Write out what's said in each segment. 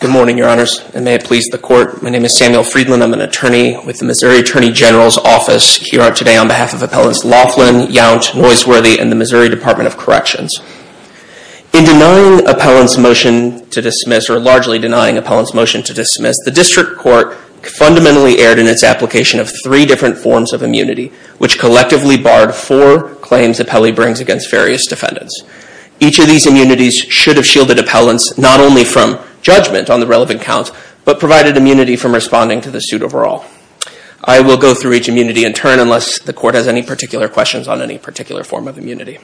Good morning, your honors, and may it please the court. My name is Samuel Friedland. I'm an attorney with the Missouri Attorney General's office here today on behalf of Appellants Laughlin, Yount, Noiseworthy, and the Missouri Department of Corrections. In denying Appellant's motion to dismiss, or largely denying Appellant's motion to dismiss, the District Court fundamentally erred in its application of three different forms of immunity, which collectively barred four claims Appellee brings against various defendants. Each of these immunities should have judgment on the relevant counts, but provided immunity from responding to the suit overall. I will go through each immunity in turn unless the court has any particular questions on any particular form of immunity.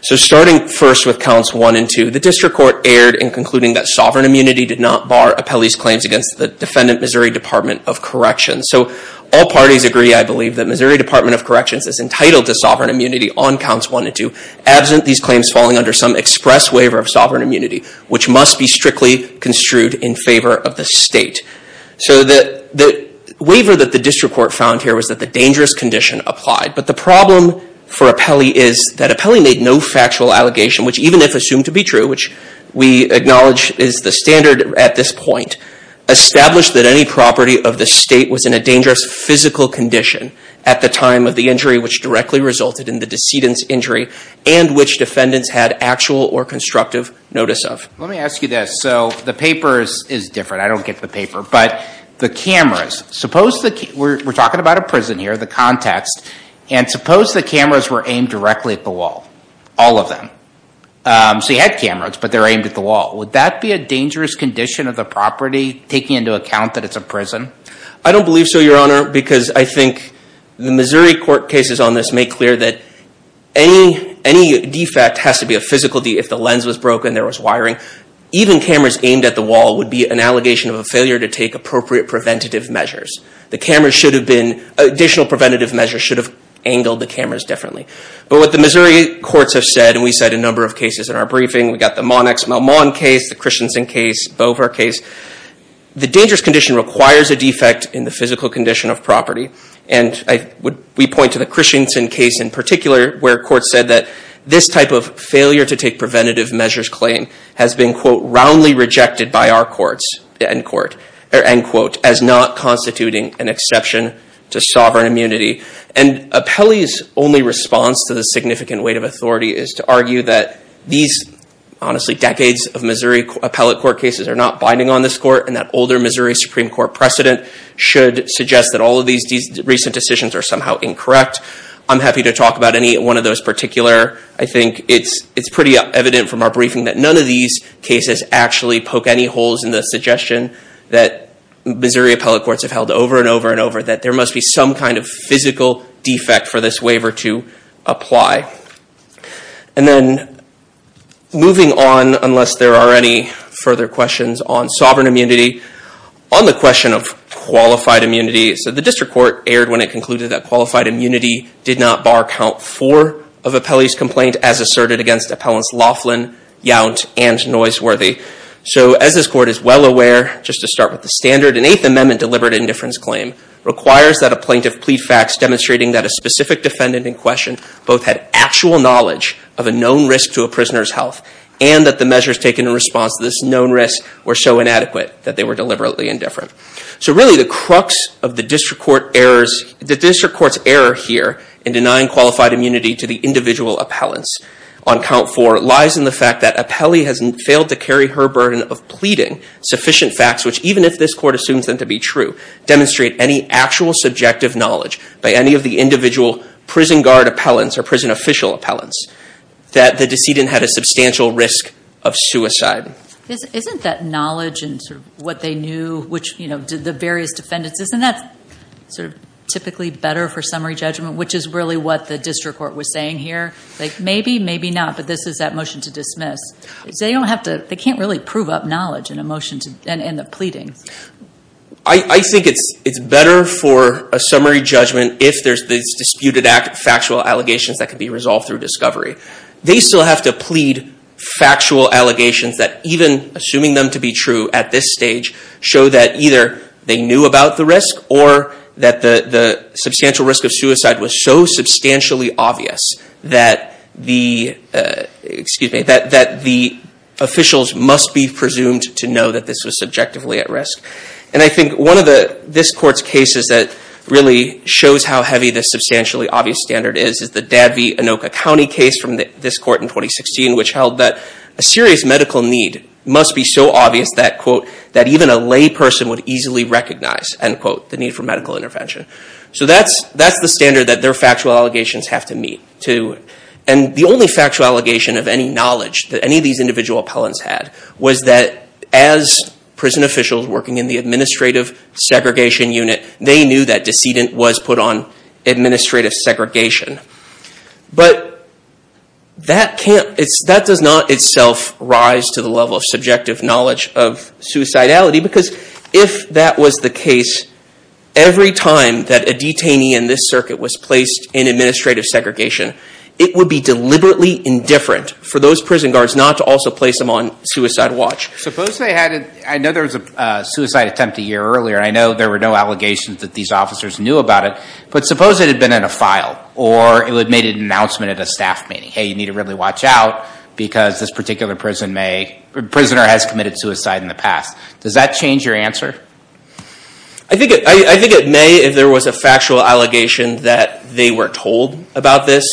So starting first with counts one and two, the District Court erred in concluding that sovereign immunity did not bar Appellee's claims against the defendant Missouri Department of Corrections. So all parties agree, I believe, that Missouri Department of Corrections is entitled to sovereign immunity on counts one and two, absent these claims falling under some express waiver of sovereign immunity, which must be strictly construed in favor of the state. So the waiver that the District Court found here was that the dangerous condition applied. But the problem for Appellee is that Appellee made no factual allegation, which even if assumed to be true, which we acknowledge is the standard at this point, established that any property of the state was in a dangerous physical condition at the time of the injury, which directly resulted in the injury, and which defendants had actual or constructive notice of. Let me ask you this. So the paper is different. I don't get the paper. But the cameras, we're talking about a prison here, the context. And suppose the cameras were aimed directly at the wall, all of them. So you had cameras, but they're aimed at the wall. Would that be a dangerous condition of the property taking into account that it's a prison? I don't believe so, Your Honor, because I think the Missouri court cases on this make clear that any defect has to be a physical defect. If the lens was broken, there was wiring. Even cameras aimed at the wall would be an allegation of a failure to take appropriate preventative measures. The cameras should have been, additional preventative measures should have angled the cameras differently. But what the Missouri courts have said, and we said a number of cases in our briefing, we've got the Monex-Melmon case, the Christensen case, Bover case. The dangerous condition requires a defect in the physical condition of property. And we point to the Christensen case in particular, where courts said that this type of failure to take preventative measures claim has been, quote, roundly rejected by our courts and court, end quote, as not constituting an exception to sovereign immunity. And Apelli's only response to the significant weight of authority is to argue that these, honestly, decades of Missouri appellate court cases are not binding on this court, and that older Missouri Supreme Court precedent should suggest that all of these recent decisions are somehow incorrect. I'm happy to talk about any one of those particular. I think it's pretty evident from our briefing that none of these cases actually poke any holes in the suggestion that Missouri appellate courts have held over and over and over that there must be some kind of physical defect for this waiver to apply. And then moving on, unless there are any further questions on sovereign immunity, on the question of qualified immunity, so the district court erred when it concluded that qualified immunity did not bar count four of Apelli's complaint as asserted against appellants Laughlin, Yount, and Noiseworthy. So as this court is well aware, just to start with the standard, an Eighth Amendment deliberate indifference claim requires that a plaintiff plead facts demonstrating that a specific defendant in question both had actual knowledge of a known risk to a prisoner's health and that the measures taken in response to this known risk were so inadequate that they were deliberately indifferent. So really the crux of the district court errors, the district court's error here in denying qualified immunity to the individual appellants on count four lies in the fact that Apelli has failed to carry her burden of pleading sufficient facts which even if this court assumes them to be true demonstrate any actual subjective knowledge by any of the individual prison guard appellants or prison official appellants that the decedent had a substantial risk of suicide. Isn't that knowledge and sort of what they knew which, you know, did the various defendants, isn't that sort of typically better for summary judgment which is really what the district court was saying here? Like maybe, maybe not, but this is that motion to dismiss. They don't have to, they can't really prove up knowledge in a motion to, and in the pleadings. I think it's better for a summary judgment if there's disputed factual allegations that can be resolved through discovery. They still have to plead factual allegations that even assuming them to be true at this stage show that either they knew about the risk or that the substantial risk of suicide was so substantially obvious that the, excuse me, that the officials must be presumed to know that this was subjectively at risk. And I think one of the, this court's cases that really shows how heavy this substantially obvious standard is, is the Dabney Anoka County case from this court in 2016 which held that a serious medical need must be so obvious that, quote, that even a lay person would easily recognize, end quote, the need for medical intervention. So that's, that's the standard that their factual allegations have to meet too. And the only factual allegation of any knowledge that any of these individual appellants had was that as prison officials working in the administrative segregation unit, they knew that decedent was put on administrative segregation. But that can't, that does not itself rise to the level of subjective knowledge of suicidality because if that was the case, every time that a detainee in this circuit was placed in administrative segregation, they were told by prison guards not to also place them on suicide watch. Suppose they had, I know there was a suicide attempt a year earlier, I know there were no allegations that these officers knew about it, but suppose it had been in a file or it had made an announcement at a staff meeting, hey, you need to really watch out because this particular prison may, prisoner has committed suicide in the past. Does that change your answer? I think it, I think it may if there was a factual allegation that they were told about this.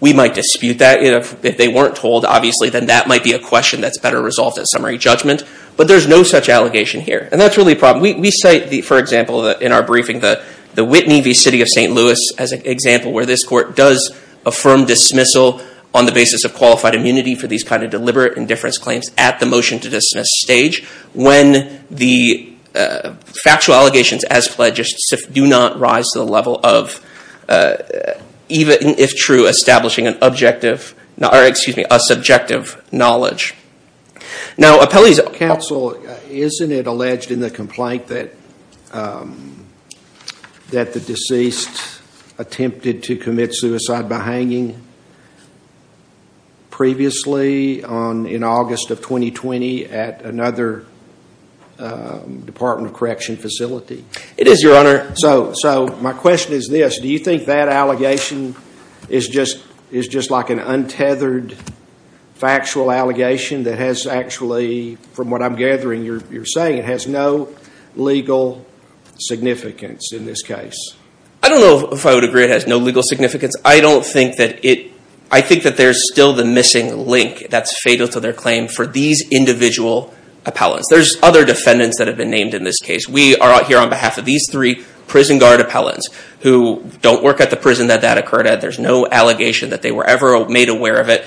We might dispute that. If they weren't told, obviously, then that might be a question that's better resolved at summary judgment. But there's no such allegation here. And that's really a problem. We cite, for example, in our briefing, the Whitney v. City of St. Louis as an example where this court does affirm dismissal on the basis of qualified immunity for these kind of deliberate indifference claims at the motion to dismiss stage when the factual allegations as pledged do not rise to the level of, even if true, establishing an objective, or excuse me, a subjective knowledge. Now, appellees... Counsel, isn't it alleged in the complaint that the deceased attempted to commit suicide by hanging previously on, in August of 2020 at another Department of Correction facility? It is, Your Honor. So, so my question is this. Do you think that allegation is just, is just like an untethered factual allegation that has actually, from what I'm gathering, you're saying it has no legal significance in this case? I don't know if I would agree it has no legal significance. I don't think that it I think that there's still the missing link that's fatal to their claim for these individual appellants. There's other defendants that have been named in this case. We are out here on behalf of these three prison guard appellants who don't work at the prison that that occurred at. There's no allegation that they were ever made aware of it.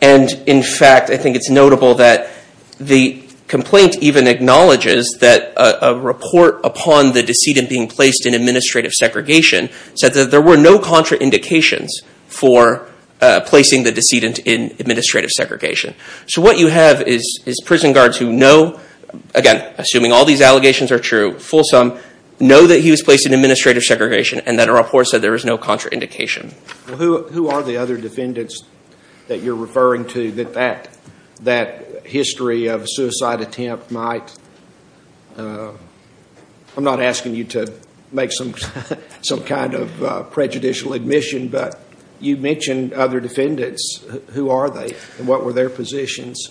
And in fact, I think it's notable that the complaint even acknowledges that a report upon the decedent being placed in administrative segregation said that there were no contraindications for placing the decedent in administrative segregation. So what you have is prison guards who know, again, assuming all these allegations are true, fulsome, know that he was placed in administrative segregation and that a report said there was no contraindication. Well, who are the other defendants that you're referring to that that history of a suicide attempt might, I'm not asking you to make some kind of prejudicial admission, but you mentioned other defendants. Who are they and what were their positions?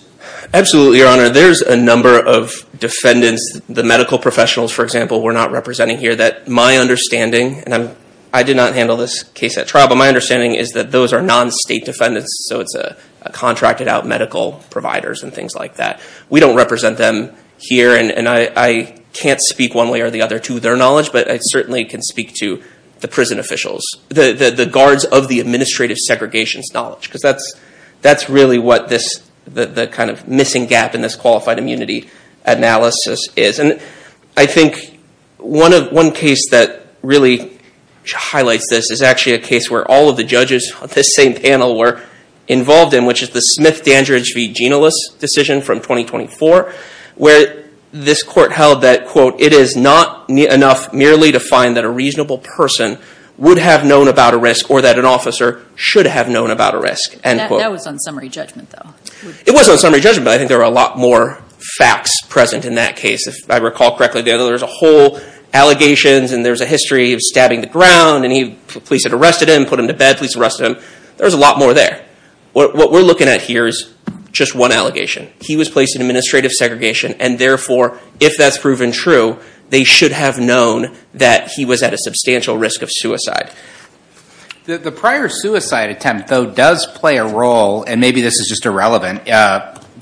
Absolutely, Your Honor. There's a number of defendants, the medical professionals, for example, we're not representing here that my understanding, and I did not handle this case at trial, but my understanding is that those are non-state defendants. So it's a contracted out medical providers and things like that. We don't represent them here and I can't speak one way or the other to their knowledge, but I certainly can speak to the prison officials, the guards of the administrative segregation's knowledge, because that's really what the kind of missing gap in this qualified immunity analysis is. And I think one case that really highlights this is actually a case where all of the judges on this same panel were involved in, which is the Smith-Dandridge v. Ginalis decision from 2024, where this court held that, quote, it is not enough merely to find that a reasonable person would have known about a risk or that an officer should have known about a risk, end quote. That was on summary judgment, though. It was on summary judgment, but I think there were a lot more facts present in that case, if I recall correctly. There was a whole allegations and there's a history of stabbing the ground and police had arrested him, put him to bed, police arrested him. There was a lot more there. What we're looking at here is just one allegation. He was placed in administrative segregation and therefore, if that's proven true, they should have known that he was at a substantial risk of suicide. The prior suicide attempt, though, does play a role, and maybe this is just irrelevant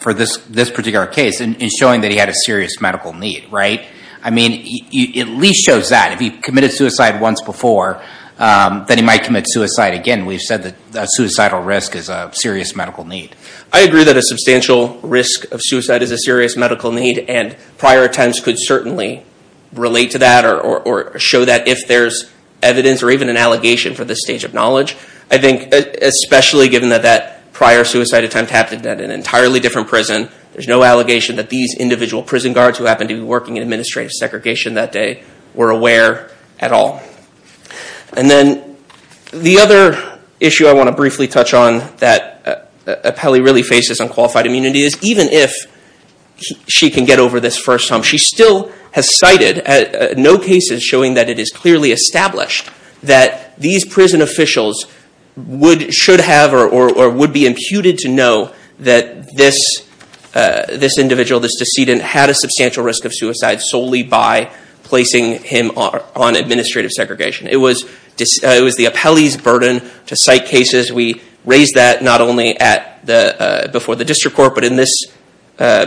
for this particular case, in showing that he had a serious medical need, right? I mean, it at least shows that. If he committed suicide once before, then he might commit suicide again. We've said that a suicidal risk is a serious medical need. I agree that a substantial risk of suicide is a serious medical need, and prior attempts could certainly relate to that or show that if there's evidence or even an allegation for this stage of knowledge. I think, especially given that that prior suicide attempt happened at an entirely different prison, there's no allegation that these individual prison guards who happened to be in administrative segregation that day were aware at all. And then the other issue I want to briefly touch on that Apelli really faces on qualified immunity is even if she can get over this first time, she still has cited no cases showing that it is clearly established that these prison officials should have or would be imputed to know that this individual, this person, committed suicide solely by placing him on administrative segregation. It was the Apelli's burden to cite cases. We raised that not only before the district court, but in this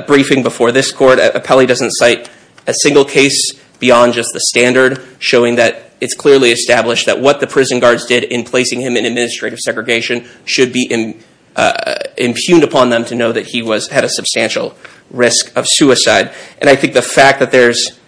briefing before this court. Apelli doesn't cite a single case beyond just the standard, showing that it's clearly established that what the prison guards did in placing him in administrative segregation should be impugned upon them to know that he had a substantial risk of suicide. And I think the fact that there's,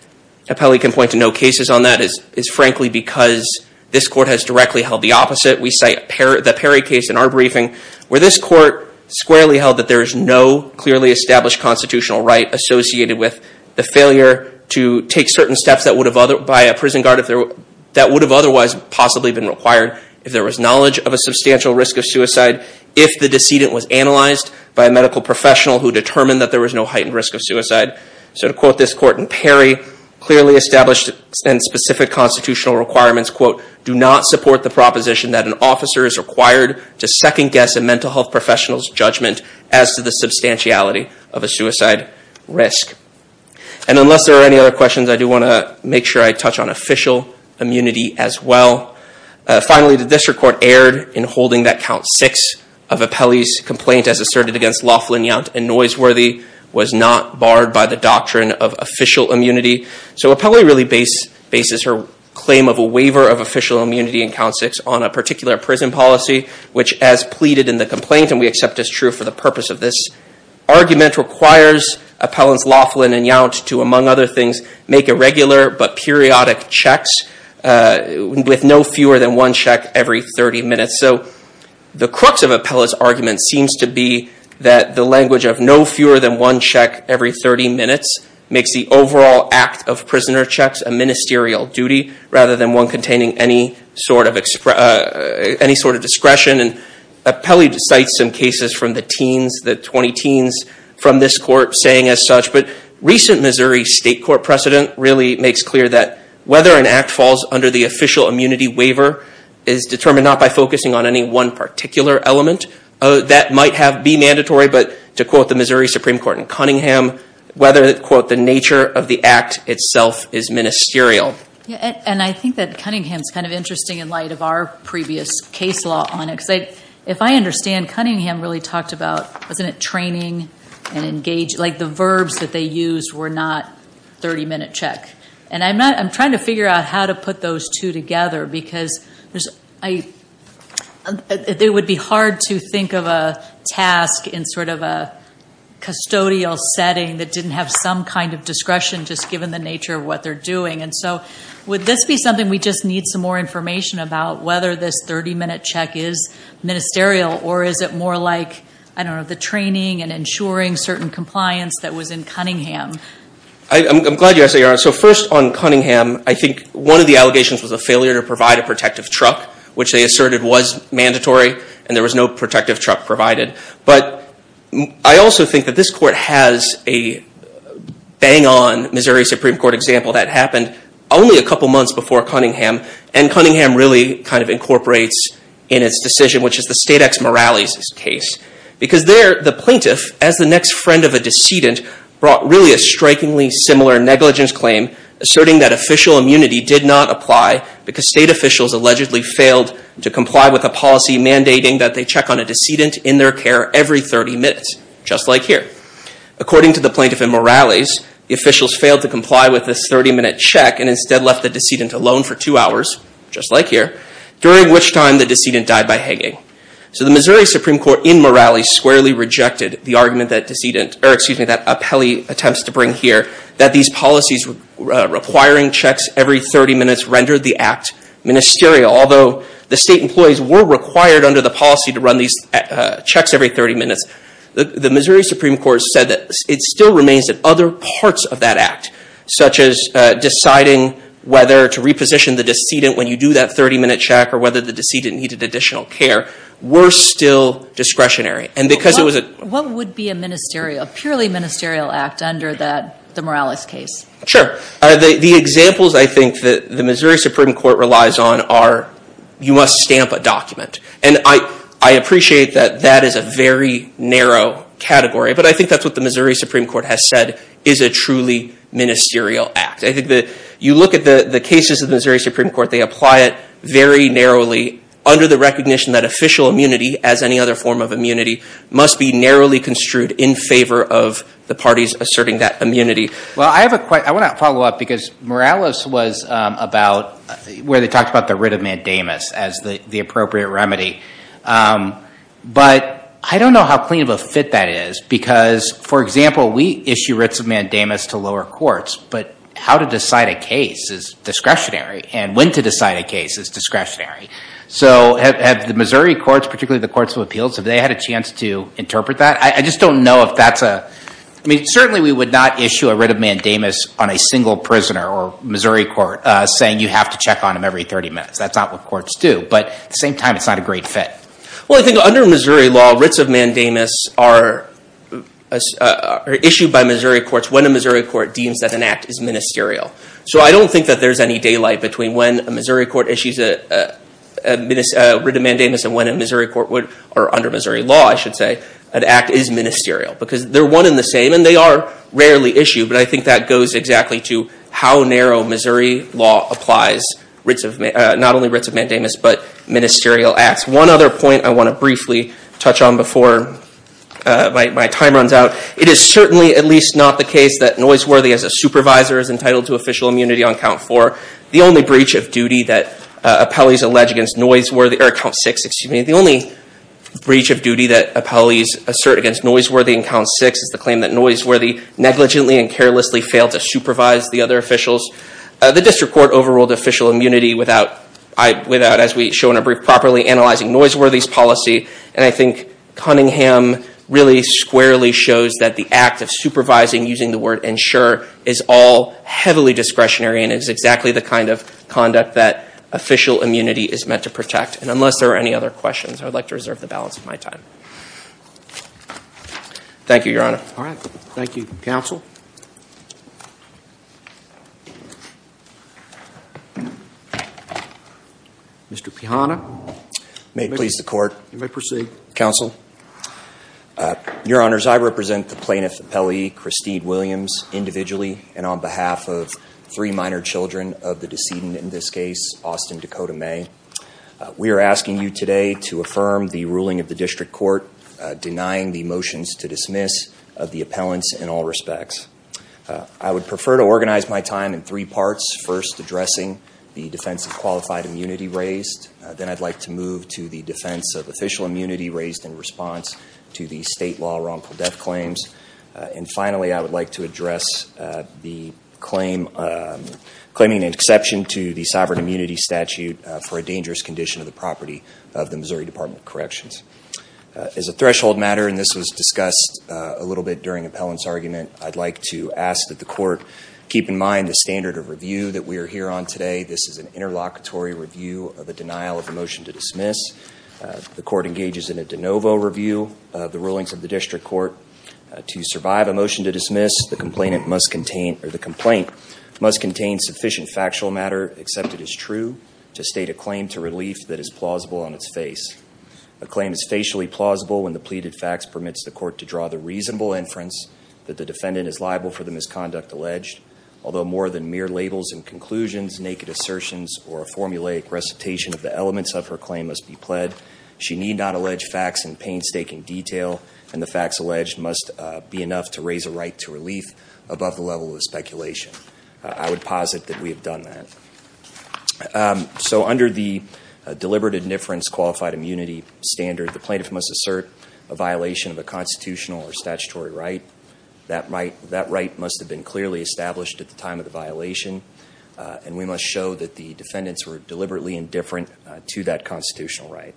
Apelli can point to no cases on that, is frankly because this court has directly held the opposite. We cite the Perry case in our briefing, where this court squarely held that there is no clearly established constitutional right associated with the failure to take certain steps that would have otherwise possibly been required if there was knowledge of a substantial risk of suicide, if the decedent was analyzed by a medical professional who determined that there clearly established and specific constitutional requirements, quote, do not support the proposition that an officer is required to second-guess a mental health professional's judgment as to the substantiality of a suicide risk. And unless there are any other questions, I do want to make sure I touch on official immunity as well. Finally, the district court erred in holding that count six of Apelli's complaint as asserted against Laughlin, Yount, and Noiseworthy was not barred by the doctrine of official immunity. So Apelli really bases her claim of a waiver of official immunity in count six on a particular prison policy, which as pleaded in the complaint, and we accept as true for the purpose of this argument, requires Appellants Laughlin and Yount to, among other things, make irregular but periodic checks, with no fewer than one check every 30 minutes. So the crux of Apelli's argument seems to be that the language of no fewer than one check every 30 minutes makes the overall act of prisoner checks a ministerial duty rather than one containing any sort of discretion. And Apelli cites some cases from the teens, the 20 teens, from this court saying as such. But recent Missouri state court precedent really makes clear that whether an act falls under the official immunity waiver is determined not by focusing on any one particular element. That might be mandatory, but to quote the Missouri Supreme Court in Cunningham, whether, quote, the nature of the act itself is ministerial. And I think that Cunningham's kind of interesting in light of our previous case law on it. Because if I understand, Cunningham really talked about, wasn't it training and engaged, like the verbs that they used were not 30 minute check. And I'm trying to figure out how to put those two together. Because it would be hard to think of a task in sort of a custodial setting that didn't have some kind of discretion, just given the nature of what they're doing. And so would this be something we just need some more information about, whether this 30 minute check is ministerial or is it more like, I don't know, the training and ensuring certain compliance that was in Cunningham? I'm glad you asked that. So first on Cunningham, I think one of the allegations was a failure to provide a protective truck, which they asserted was mandatory and there was no protective truck provided. But I also think that this court has a bang on Missouri Supreme Court example that happened only a couple months before Cunningham. And Cunningham really kind of incorporates in its decision, which is the state ex moralis case. Because there, the plaintiff, as the next friend of a decedent, brought really a similar negligence claim, asserting that official immunity did not apply because state officials allegedly failed to comply with a policy mandating that they check on a decedent in their care every 30 minutes, just like here. According to the plaintiff in moralis, the officials failed to comply with this 30 minute check and instead left the decedent alone for two hours, just like here, during which time the decedent died by hanging. So the Missouri Supreme Court in moralis squarely rejected the argument that appellee attempts to bring here, that these policies requiring checks every 30 minutes rendered the act ministerial. Although the state employees were required under the policy to run these checks every 30 minutes, the Missouri Supreme Court said that it still remains that other parts of that act, such as deciding whether to reposition the decedent when you do that 30 minute check or whether the decedent needed additional care, were still discretionary. What would be a purely ministerial act under the moralis case? Sure. The examples I think that the Missouri Supreme Court relies on are, you must stamp a document. And I appreciate that that is a very narrow category, but I think that's what the Missouri Supreme Court has said is a truly ministerial act. I think that you look at the cases of the Missouri Supreme Court, they apply it very narrowly under the recognition that official immunity, as any other form of immunity, must be narrowly construed in favor of the parties asserting that immunity. Well, I have a question. I want to follow up because moralis was about where they talked about the writ of mandamus as the appropriate remedy. But I don't know how clean of a fit that is because, for example, we issue writs of mandamus to lower courts, but how to decide a case is discretionary. And when to decide a case is discretionary. So have the Missouri courts, particularly the courts of appeals, have they had a chance to interpret that? I just don't know if that's a... I mean, certainly we would not issue a writ of mandamus on a single prisoner or Missouri court saying you have to check on him every 30 minutes. That's not what courts do. But at the same time, it's not a great fit. Well, I think under Missouri law, writs of mandamus are issued by Missouri courts when a Missouri court deems that an act is ministerial. So I don't think that there's any daylight between when a Missouri court issues a writ of mandamus and when a Missouri court would... or under Missouri law, I should say, an act is ministerial. Because they're one in the same and they are rarely issued. But I think that goes exactly to how narrow Missouri law applies not only writs of mandamus but ministerial acts. One other point I want to briefly touch on before my time runs out. It is certainly at least not the case that Noiseworthy as a supervisor is entitled to official immunity on count four. The only breach of duty that appellees allege against Noiseworthy... or count six, excuse me. The only breach of duty that appellees assert against Noiseworthy in count six is the claim that Noiseworthy negligently and carelessly failed to supervise the other officials. The district court overruled official immunity without, as we show in a brief, properly analyzing Noiseworthy's policy. And I think Cunningham really squarely shows that the act of supervising using the word ensure is all heavily discretionary and is exactly the kind of conduct that official immunity is meant to protect. And unless there are any other questions, I would like to reserve the balance of my time. Thank you, your honor. All right. Thank you, counsel. Mr. Pihanna. May it please the court. You may proceed. Counsel. Your honors, I represent the plaintiff appellee Christine Williams individually and on behalf of three minor children of the decedent in this case, Austin Dakota May. We are asking you today to affirm the ruling of the district court denying the motions to dismiss of the appellants in all respects. I would prefer to organize my time in three parts. First, addressing the defense of qualified immunity raised. Then I'd like to move to the defense of official immunity raised in response to the state law wrongful death claims. And finally, I would like to address the claim, claiming an exception to the sovereign immunity statute for a dangerous condition of the property of the Missouri Department of Corrections. As a threshold matter, and this was discussed a little bit during appellant's argument, I'd like to ask that the court keep in mind the standard of review that we are here on today. This is an interlocutory review of a denial of a motion to dismiss. The court engages in a de novo review of the rulings of the district court. To survive a motion to dismiss, the complainant must contain, or the complaint, must contain sufficient factual matter, except it is true, to state a claim to relief that is plausible on its face. A claim is facially plausible when the pleaded facts permits the court to draw the reasonable inference that the defendant is liable for the misconduct alleged. Although more than mere labels and conclusions, naked assertions, or a formulaic recitation of elements of her claim must be pled. She need not allege facts in painstaking detail, and the facts alleged must be enough to raise a right to relief above the level of speculation. I would posit that we have done that. So under the deliberate indifference qualified immunity standard, the plaintiff must assert a violation of a constitutional or statutory right. That right must have been clearly established at the time of the violation, and we must show that the defendants were deliberately indifferent to that constitutional right.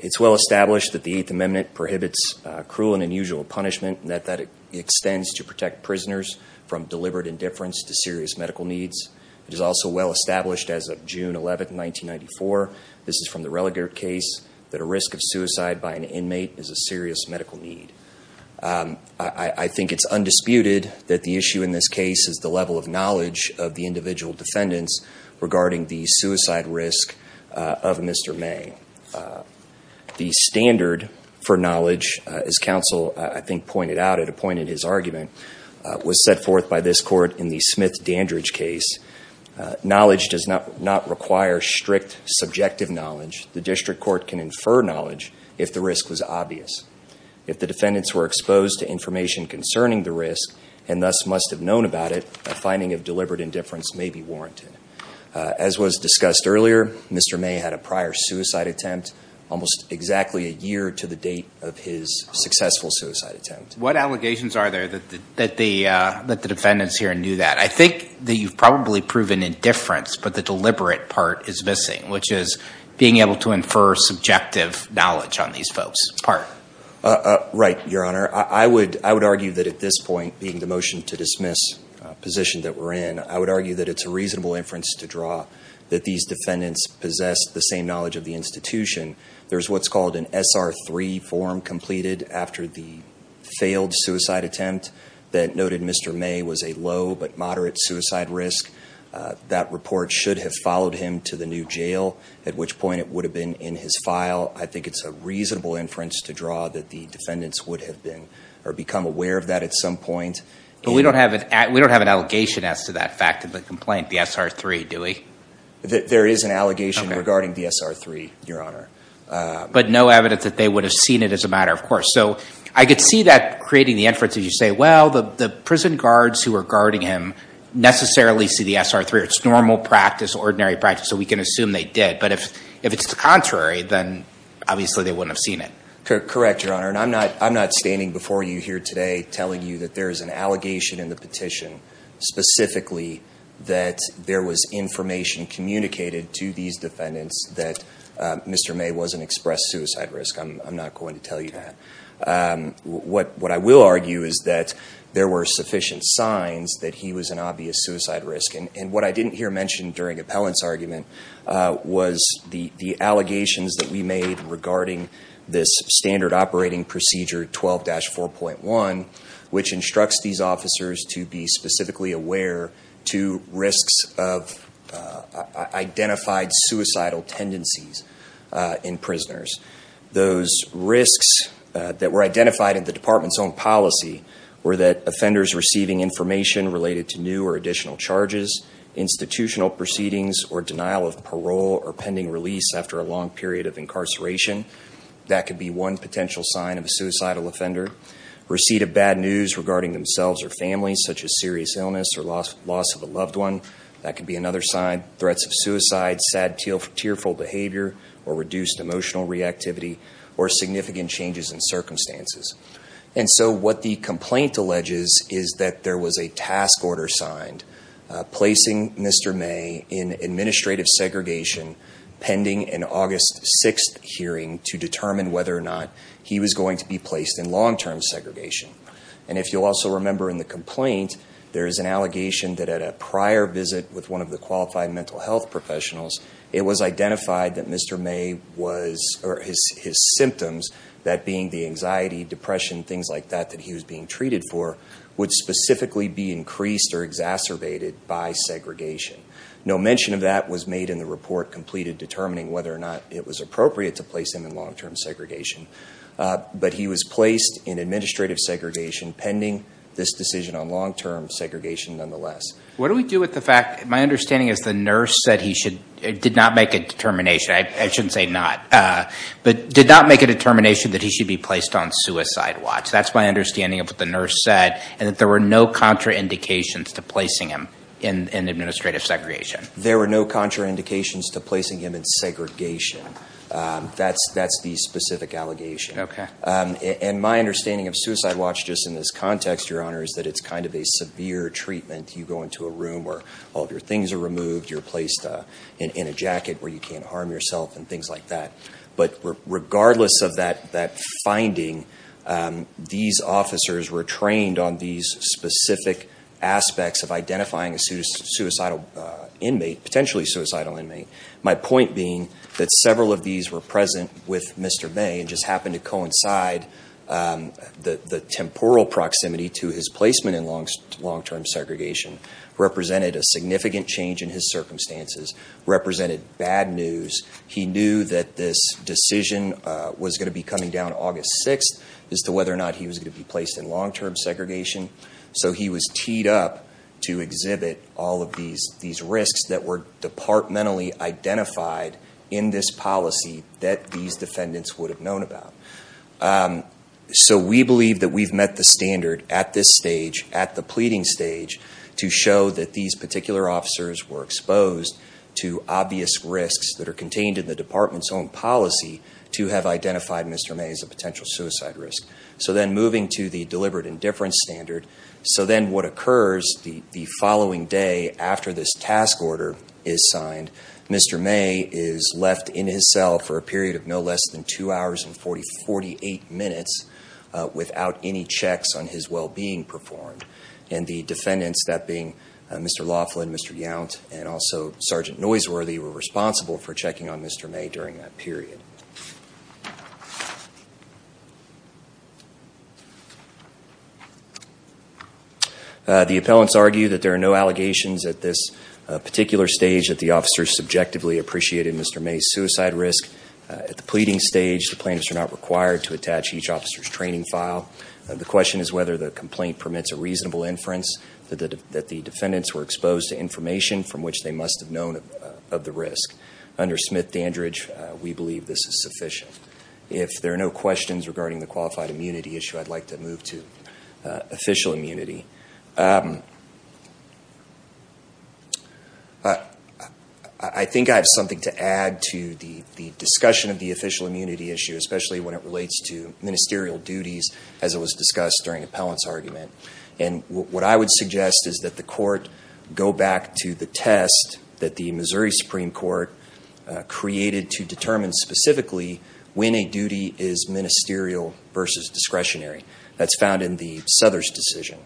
It's well established that the Eighth Amendment prohibits cruel and unusual punishment, and that that extends to protect prisoners from deliberate indifference to serious medical needs. It is also well established as of June 11, 1994, this is from the Relegate case, that a risk of suicide by an inmate is a serious medical need. I think it's undisputed that the issue in this case is the level of knowledge of the individual defendants regarding the suicide risk of Mr. May. The standard for knowledge, as counsel I think pointed out at a point in his argument, was set forth by this court in the Smith-Dandridge case. Knowledge does not require strict subjective knowledge. The district court can infer knowledge if the risk was obvious. If the defendants were exposed to information concerning the risk and thus must have known about it, a finding of deliberate indifference may be warranted. As was discussed earlier, Mr. May had a prior suicide attempt almost exactly a year to the date of his successful suicide attempt. What allegations are there that the defendants here knew that? I think that you've probably proven indifference, but the deliberate part is missing, which is being able to infer subjective knowledge on these folks' part. Right, Your Honor. I would argue that at this point, being the motion to dismiss position that we're in, I would argue that it's a reasonable inference to draw that these defendants possess the same knowledge of the institution. There's what's called an SR3 form completed after the failed suicide attempt that noted Mr. May was a low but moderate suicide risk. That report should have followed him to the new jail, at which point it would have been in his file. I think it's a reasonable inference to draw that the defendants would have been or become aware of that at some point. But we don't have an allegation as to that fact of the complaint, the SR3, do we? There is an allegation regarding the SR3, Your Honor. But no evidence that they would have seen it as a matter of course. So I could see that creating the inference as you say, well, the prison guards who are guarding him necessarily see the SR3. It's normal practice, ordinary practice. So we can assume they did. But if it's the contrary, then obviously they wouldn't have seen it. Correct, Your Honor. And I'm not standing before you here today telling you that there is an allegation in the petition specifically that there was information communicated to these defendants that Mr. May wasn't expressed suicide risk. I'm not going to tell you that. What I will argue is that there were sufficient signs that he was an obvious suicide risk. And what I didn't hear mentioned during appellant's argument was the allegations that we made regarding this standard operating procedure 12-4.1, which instructs these officers to be specifically aware to risks of identified suicidal tendencies in prisoners. Those risks that were identified in the department's own policy were that offenders receiving information related to new or additional charges, institutional proceedings or denial of parole or pending release after a long period of incarceration. That could be one potential sign of a suicidal offender. Receipt of bad news regarding themselves or families such as serious illness or loss of a loved one. That could be another sign. Threats of suicide, sad tearful behavior or reduced emotional reactivity or significant changes in circumstances. And so what the complaint alleges is that there was a task order signed placing Mr. May in administrative segregation pending an August 6th hearing to determine whether or not he was going to be placed in long-term segregation. And if you'll also remember in the complaint, there is an allegation that at a prior visit with one of the qualified mental health professionals, it was identified that Mr. May was, or his symptoms, that being the anxiety, depression, things like that that he was being treated for, would specifically be increased or exacerbated by segregation. No mention of that was made in the report completed determining whether or not it was appropriate to place him in long-term segregation. But he was placed in administrative segregation pending this decision on long-term segregation nonetheless. What do we do with the fact, my understanding is the nurse said he should, did not make a determination, I shouldn't say not, but did not make a determination that he should be placed on suicide watch. That's my understanding of what the nurse said and that there were no contraindications to placing him in administrative segregation. There were no contraindications to placing him in segregation. That's the specific allegation. Okay. And my understanding of suicide watch just in this context, your honor, is that it's kind of a severe treatment. You go into a room where all of your things are removed, you're placed in a jacket where you can't harm yourself and things like that. But regardless of that finding, these officers were trained on these specific aspects of identifying a suicidal inmate, potentially suicidal inmate. My point being that several of these were present with Mr. May and just happened to coincide the temporal proximity to his placement in long-term segregation represented a significant change in his circumstances, represented bad news. He knew that this decision was going to be coming down August 6th as to whether or not he was going to be placed in long-term segregation. So he was teed up to exhibit all of these risks that were departmentally identified in this policy that these defendants would have known about. So we believe that we've met the standard at this stage, at the pleading stage, to show that these particular officers were exposed to obvious risks that are contained in the department's own policy to have identified Mr. May as a potential suicide risk. So then moving to the deliberate indifference standard. So then what occurs the following day after this task order is signed, Mr. May is left in his cell for a period of no less than two hours and 48 minutes without any checks on his well-being performed. And the defendants, that being Mr. Laughlin, Mr. Yount, and also Sergeant Noiseworthy, were responsible for checking on Mr. May during that period. The appellants argue that there are no allegations at this particular stage that the officers subjectively appreciated Mr. May's suicide risk. At the pleading stage, the plaintiffs are not required to attach each officer's training file. The question is whether the complaint permits a reasonable inference that the defendants were exposed to information from which they must have known of the risk. Under Smith-Dandridge, we believe this is sufficient. If there are no questions regarding the qualified immunity issue, I'd like to move to official immunity. I think I have something to add to the discussion of the official immunity issue, especially when it relates to ministerial duties, as it was discussed during the appellant's argument. And what I would suggest is that the court go back to the test that the Missouri Supreme Court created to determine specifically when a duty is ministerial versus discretionary. That's found in the Souther's decision.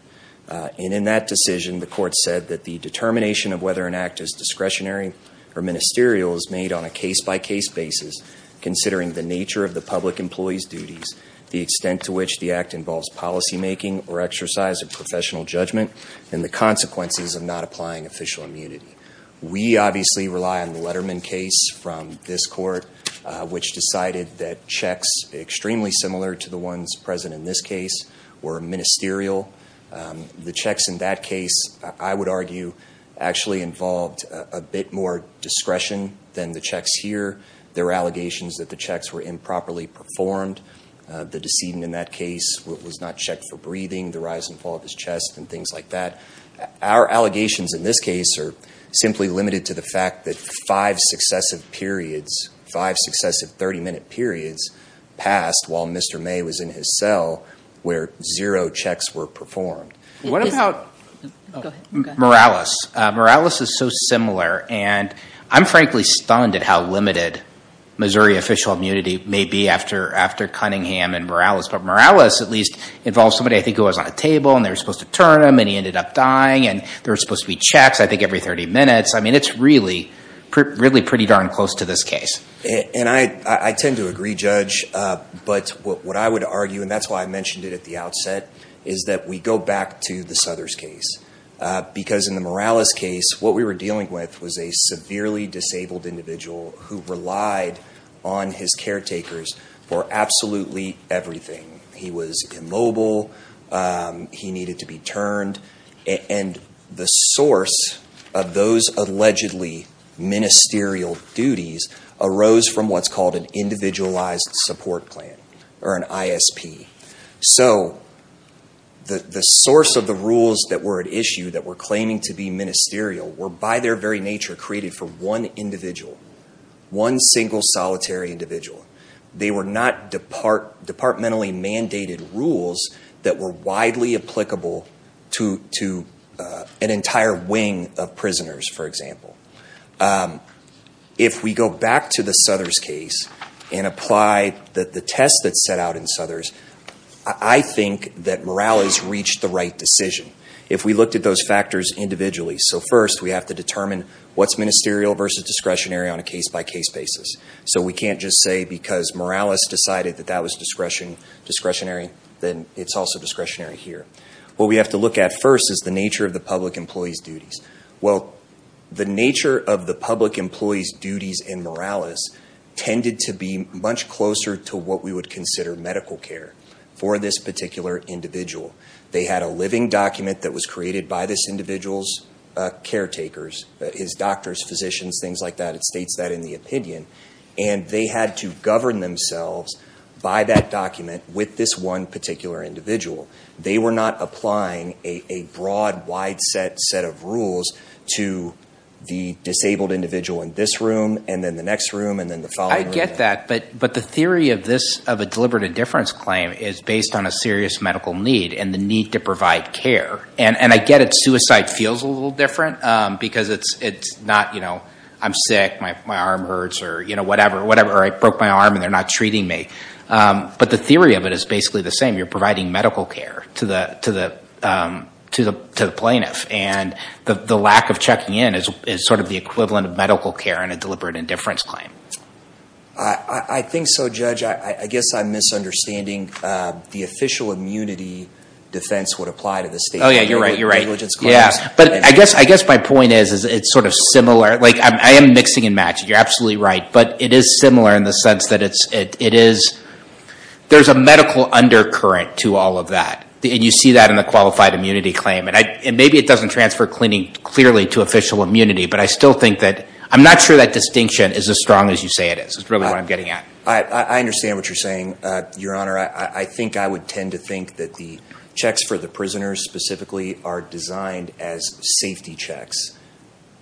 And in that decision, the court said that the determination of whether an act is discretionary or ministerial is made on a case-by-case basis, considering the nature of the public employee's duties, the extent to which the act involves policymaking or exercise of professional judgment, and the consequences of not applying official immunity. We obviously rely on the Letterman case from this court, which decided that checks extremely similar to the ones present in this case were ministerial. The checks in that case, I would argue, actually involved a bit more discretion than the checks here. There were allegations that the checks were improperly performed. The decedent in that case was not checked for breathing, the rise and fall of his chest, and things like that. Our allegations in this case are simply limited to the fact that five successive periods, five successive 30-minute periods passed while Mr. May was in his cell where zero checks were performed. What about Morales? Morales is so similar. And I'm frankly stunned at how limited Missouri official immunity may be after Cunningham and Morales. But Morales at least involved somebody, I think it was on a every 30 minutes. I mean, it's really pretty darn close to this case. And I tend to agree, Judge. But what I would argue, and that's why I mentioned it at the outset, is that we go back to the Southers case. Because in the Morales case, what we were dealing with was a severely disabled individual who relied on his caretakers for absolutely everything. He was immobile. He needed to be turned. And the source of those allegedly ministerial duties arose from what's called an individualized support plan or an ISP. So the source of the rules that were at issue that were claiming to be ministerial were by their very nature created for one individual, one single solitary individual. They were not departmentally mandated rules that were widely applicable to an entire wing of prisoners, for example. If we go back to the Southers case and apply the test that's set out in Southers, I think that Morales reached the right decision if we looked at those factors individually. So first, we have to determine what's ministerial versus discretionary on a case-by-case basis. So we can't just say because Morales decided that that was discretionary, then it's also discretionary here. What we have to look at first is the nature of the public employee's duties. Well, the nature of the public employee's duties in Morales tended to be much closer to what we would consider medical care for this particular individual. They had a living document that was created by this individual's caretakers, his doctors, physicians, things like that. It states that in the opinion. And they had to govern themselves by that document with this one particular individual. They were not applying a broad, wide-set set of rules to the disabled individual in this room, and then the next room, and then the following room. I get that, but the theory of a deliberate indifference claim is based on a serious medical need and the need to provide care. And I get it. Suicide feels a little different because it's not, I'm sick, my arm hurts, or whatever. I broke my arm and they're not treating me. But the theory of it is basically the same. You're providing medical care to the plaintiff, and the lack of checking in is sort of the equivalent of medical care in a deliberate indifference claim. I think so, Judge. I guess I'm misunderstanding the official immunity defense would apply to this case. Oh yeah, you're right. You're right. Yeah. But I guess my point is it's sort of similar. I am mixing and matching. You're absolutely right. But it is similar in the sense that there's a medical undercurrent to all of that. And you see that in the qualified immunity claim. And maybe it doesn't transfer cleaning clearly to official immunity, but I still think that I'm not sure that distinction is as strong as you say it is. That's really what I'm getting at. I understand what you're saying, Your Honor. I think I would tend to think that the checks for the prisoners specifically are designed as safety checks.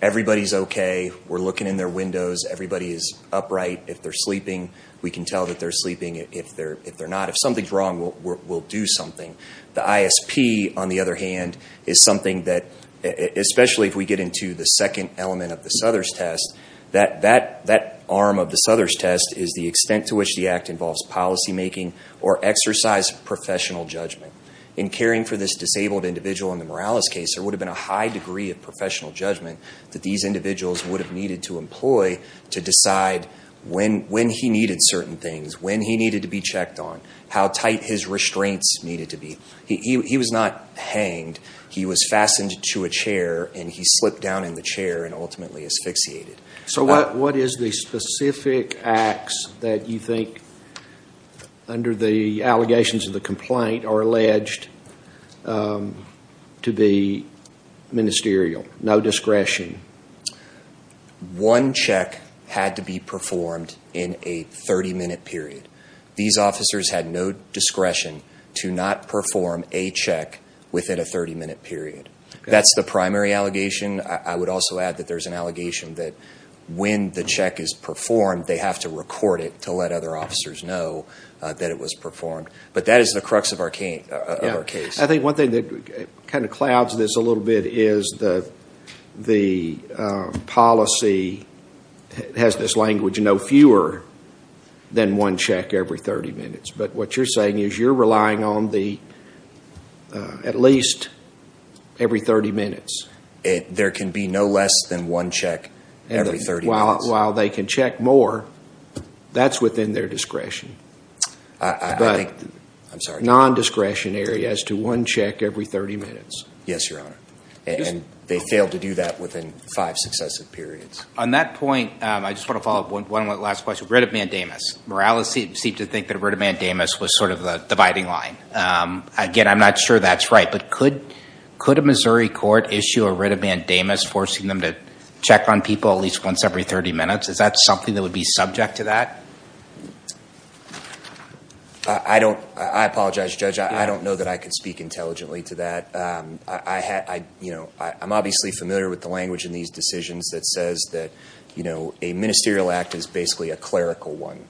Everybody's okay. We're looking in their windows. Everybody is upright. If they're sleeping, we can tell that they're sleeping. If they're not, if something's wrong, we'll do something. The ISP, on the other hand, is something that, especially if we get into the second element of the Souther's test, that arm of the Souther's test is the extent to which the act involves policymaking or exercise professional judgment. In caring for this disabled individual in the Morales case, there would have been a high degree of professional judgment that these individuals would have needed to employ to decide when he needed certain things, when he needed to be checked on, how tight his restraints needed to be. He was not hanged. He was fastened to a chair, and he slipped down in the chair and ultimately asphyxiated. So what is the specific acts that you think, under the allegations of the complaint, are alleged to be ministerial? No discretion? One check had to be performed in a 30-minute period. These officers had no discretion to not perform a check within a 30-minute period. That's the primary allegation. I would also add that there's an allegation that when the check is performed, they have to record it to let other officers know that it was performed. But that is the crux of our case. I think one thing that kind of clouds this a little bit is the policy has this language, fewer than one check every 30 minutes. But what you're saying is you're relying on the at least every 30 minutes. There can be no less than one check every 30 minutes. While they can check more, that's within their discretion. But non-discretionary as to one check every 30 minutes. Yes, Your Honor. And they failed to do that within five successive periods. On that point, I just want to follow up on one last question. Writ of mandamus. Morales seemed to think that a writ of mandamus was sort of the dividing line. Again, I'm not sure that's right. But could a Missouri court issue a writ of mandamus forcing them to check on people at least once every 30 minutes? Is that something that would be subject to that? I apologize, Judge. I don't know that I could speak intelligently to that. I'm obviously familiar with the language in these decisions that says that a ministerial act is basically a clerical one,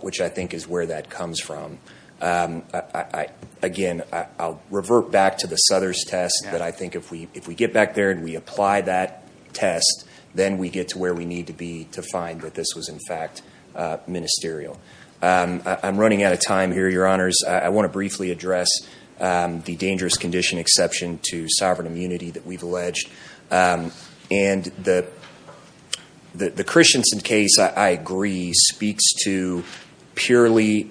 which I think is where that comes from. Again, I'll revert back to the Southers test that I think if we get back there and we apply that test, then we get to where we need to be to find that this was in fact ministerial. I'm running out of time here, Your Honors. I want to briefly address the dangerous condition exception to sovereign immunity that we've alleged. And the Christensen case, I agree, speaks to purely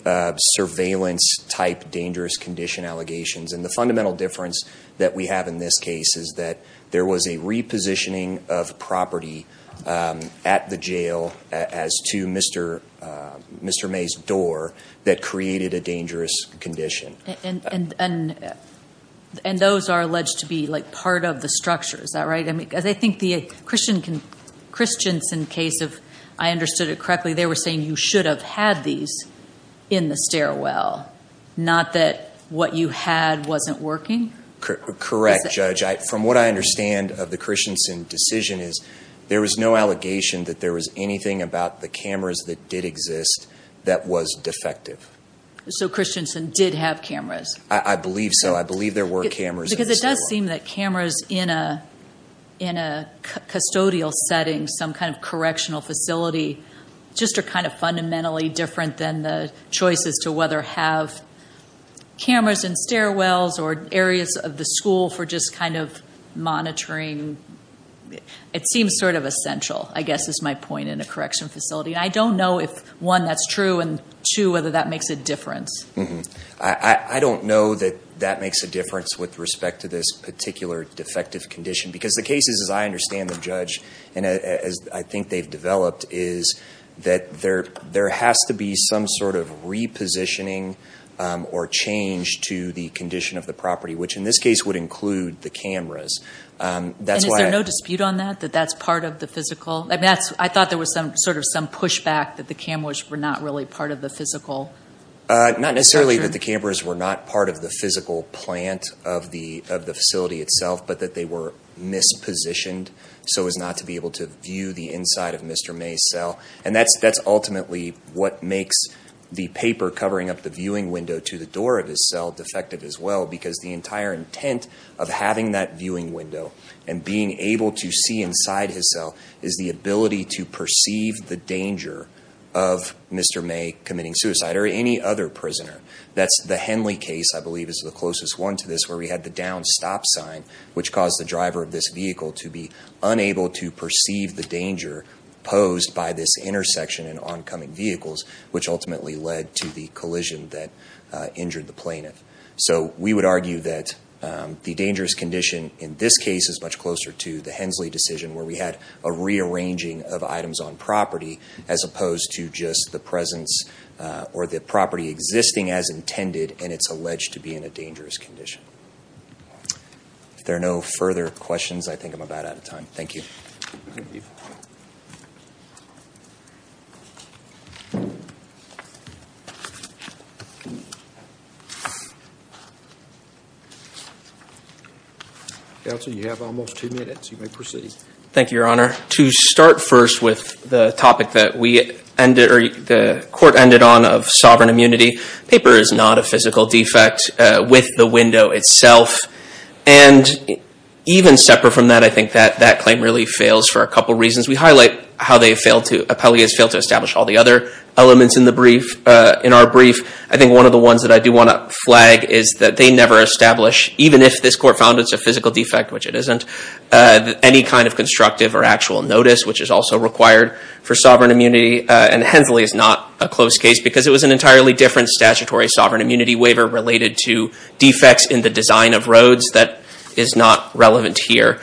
surveillance-type dangerous condition allegations. And the fundamental difference that we have in this case is that there was a repositioning of property at the jail as to Mr. May's door that created a dangerous condition. And those are alleged to be part of the structure, is that right? Because I think the Christensen case, if I understood it correctly, they were saying you should have had these in the stairwell, not that what you had wasn't working? Correct, Judge. From what I understand of the Christensen decision is there was no allegation that there was anything about the cameras that did exist that was defective. So Christensen did have cameras? I believe so. I believe there were cameras. Because it does seem that cameras in a custodial setting, some kind of correctional facility, just are kind of fundamentally different than the choices to whether have cameras in stairwells or areas of the school for just kind of monitoring. It seems sort of I guess is my point in a correctional facility. And I don't know if, one, that's true, and two, whether that makes a difference. I don't know that that makes a difference with respect to this particular defective condition. Because the cases, as I understand them, Judge, and as I think they've developed, is that there has to be some sort of repositioning or change to the condition of the property, which in this case would include the cameras. That's why I— I thought there was sort of some pushback that the cameras were not really part of the physical— Not necessarily that the cameras were not part of the physical plant of the facility itself, but that they were mispositioned so as not to be able to view the inside of Mr. May's cell. And that's ultimately what makes the paper covering up the viewing window to the door of his cell defective as well. Because the entire intent of having that viewing window and being able to see inside his cell is the ability to perceive the danger of Mr. May committing suicide or any other prisoner. That's the Henley case, I believe is the closest one to this, where we had the down stop sign, which caused the driver of this vehicle to be unable to perceive the danger posed by this intersection and oncoming vehicles, which ultimately led to the collision that injured the plaintiff. So we would argue that the dangerous condition in this case is much closer to the Hensley decision, where we had a rearranging of items on property as opposed to just the presence or the property existing as intended and it's alleged to be in a dangerous condition. If there are no further questions, I think I'm about out of time. Thank you. Counsel, you have almost two minutes. You may proceed. Thank you, Your Honor. To start first with the topic that the court ended on of sovereign immunity, paper is not a physical defect with the window itself. And even separate from that, I think that that claim really fails for a couple reasons. We highlight how Appellee has failed to establish all the other elements in our brief. I think one of the ones that I do want to flag is that they never establish, even if this court found it's a physical defect, which it isn't, any kind of constructive or actual notice, which is also required for sovereign immunity. And Hensley is not a close case because it was an entirely different statutory sovereign immunity waiver related to defects in the design of roads that is not relevant here.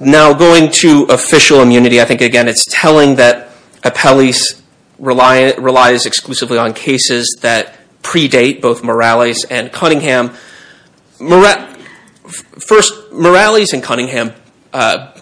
Now, going to official immunity, I think, again, it's telling that Appellee relies exclusively on cases that predate both Morales and Cunningham. First, Morales and Cunningham,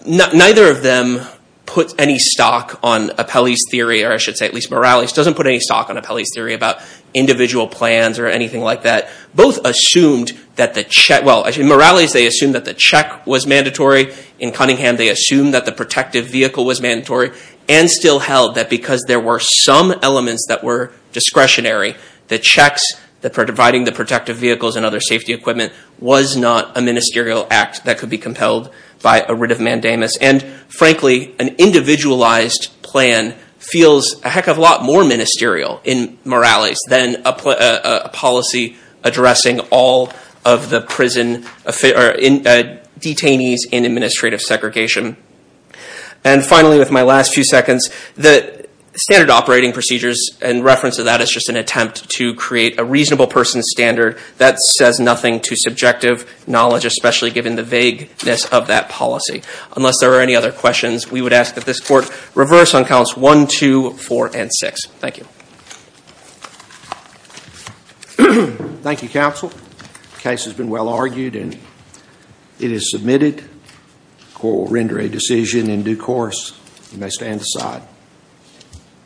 neither of them put any stock on Appellee's theory, or I should say at least Morales doesn't put any stock on Appellee's theory about individual plans or anything like that. Both assumed that the check, well, Morales, they assumed that the check was mandatory. In Cunningham, they assumed that the protective vehicle was mandatory and still held that there were some elements that were discretionary. The checks that were providing the protective vehicles and other safety equipment was not a ministerial act that could be compelled by a writ of mandamus. And frankly, an individualized plan feels a heck of a lot more ministerial in Morales than a policy addressing all of the detainees in administrative segregation. And finally, with my last few seconds, the standard operating procedures in reference to that is just an attempt to create a reasonable person standard that says nothing to subjective knowledge, especially given the vagueness of that policy. Unless there are any other questions, we would ask that this Court reverse on counts 1, 2, 4, and 6. Thank you. Thank you, Counsel. The case has been well argued and it is submitted. The Court will render a decision in due course. You may stand aside.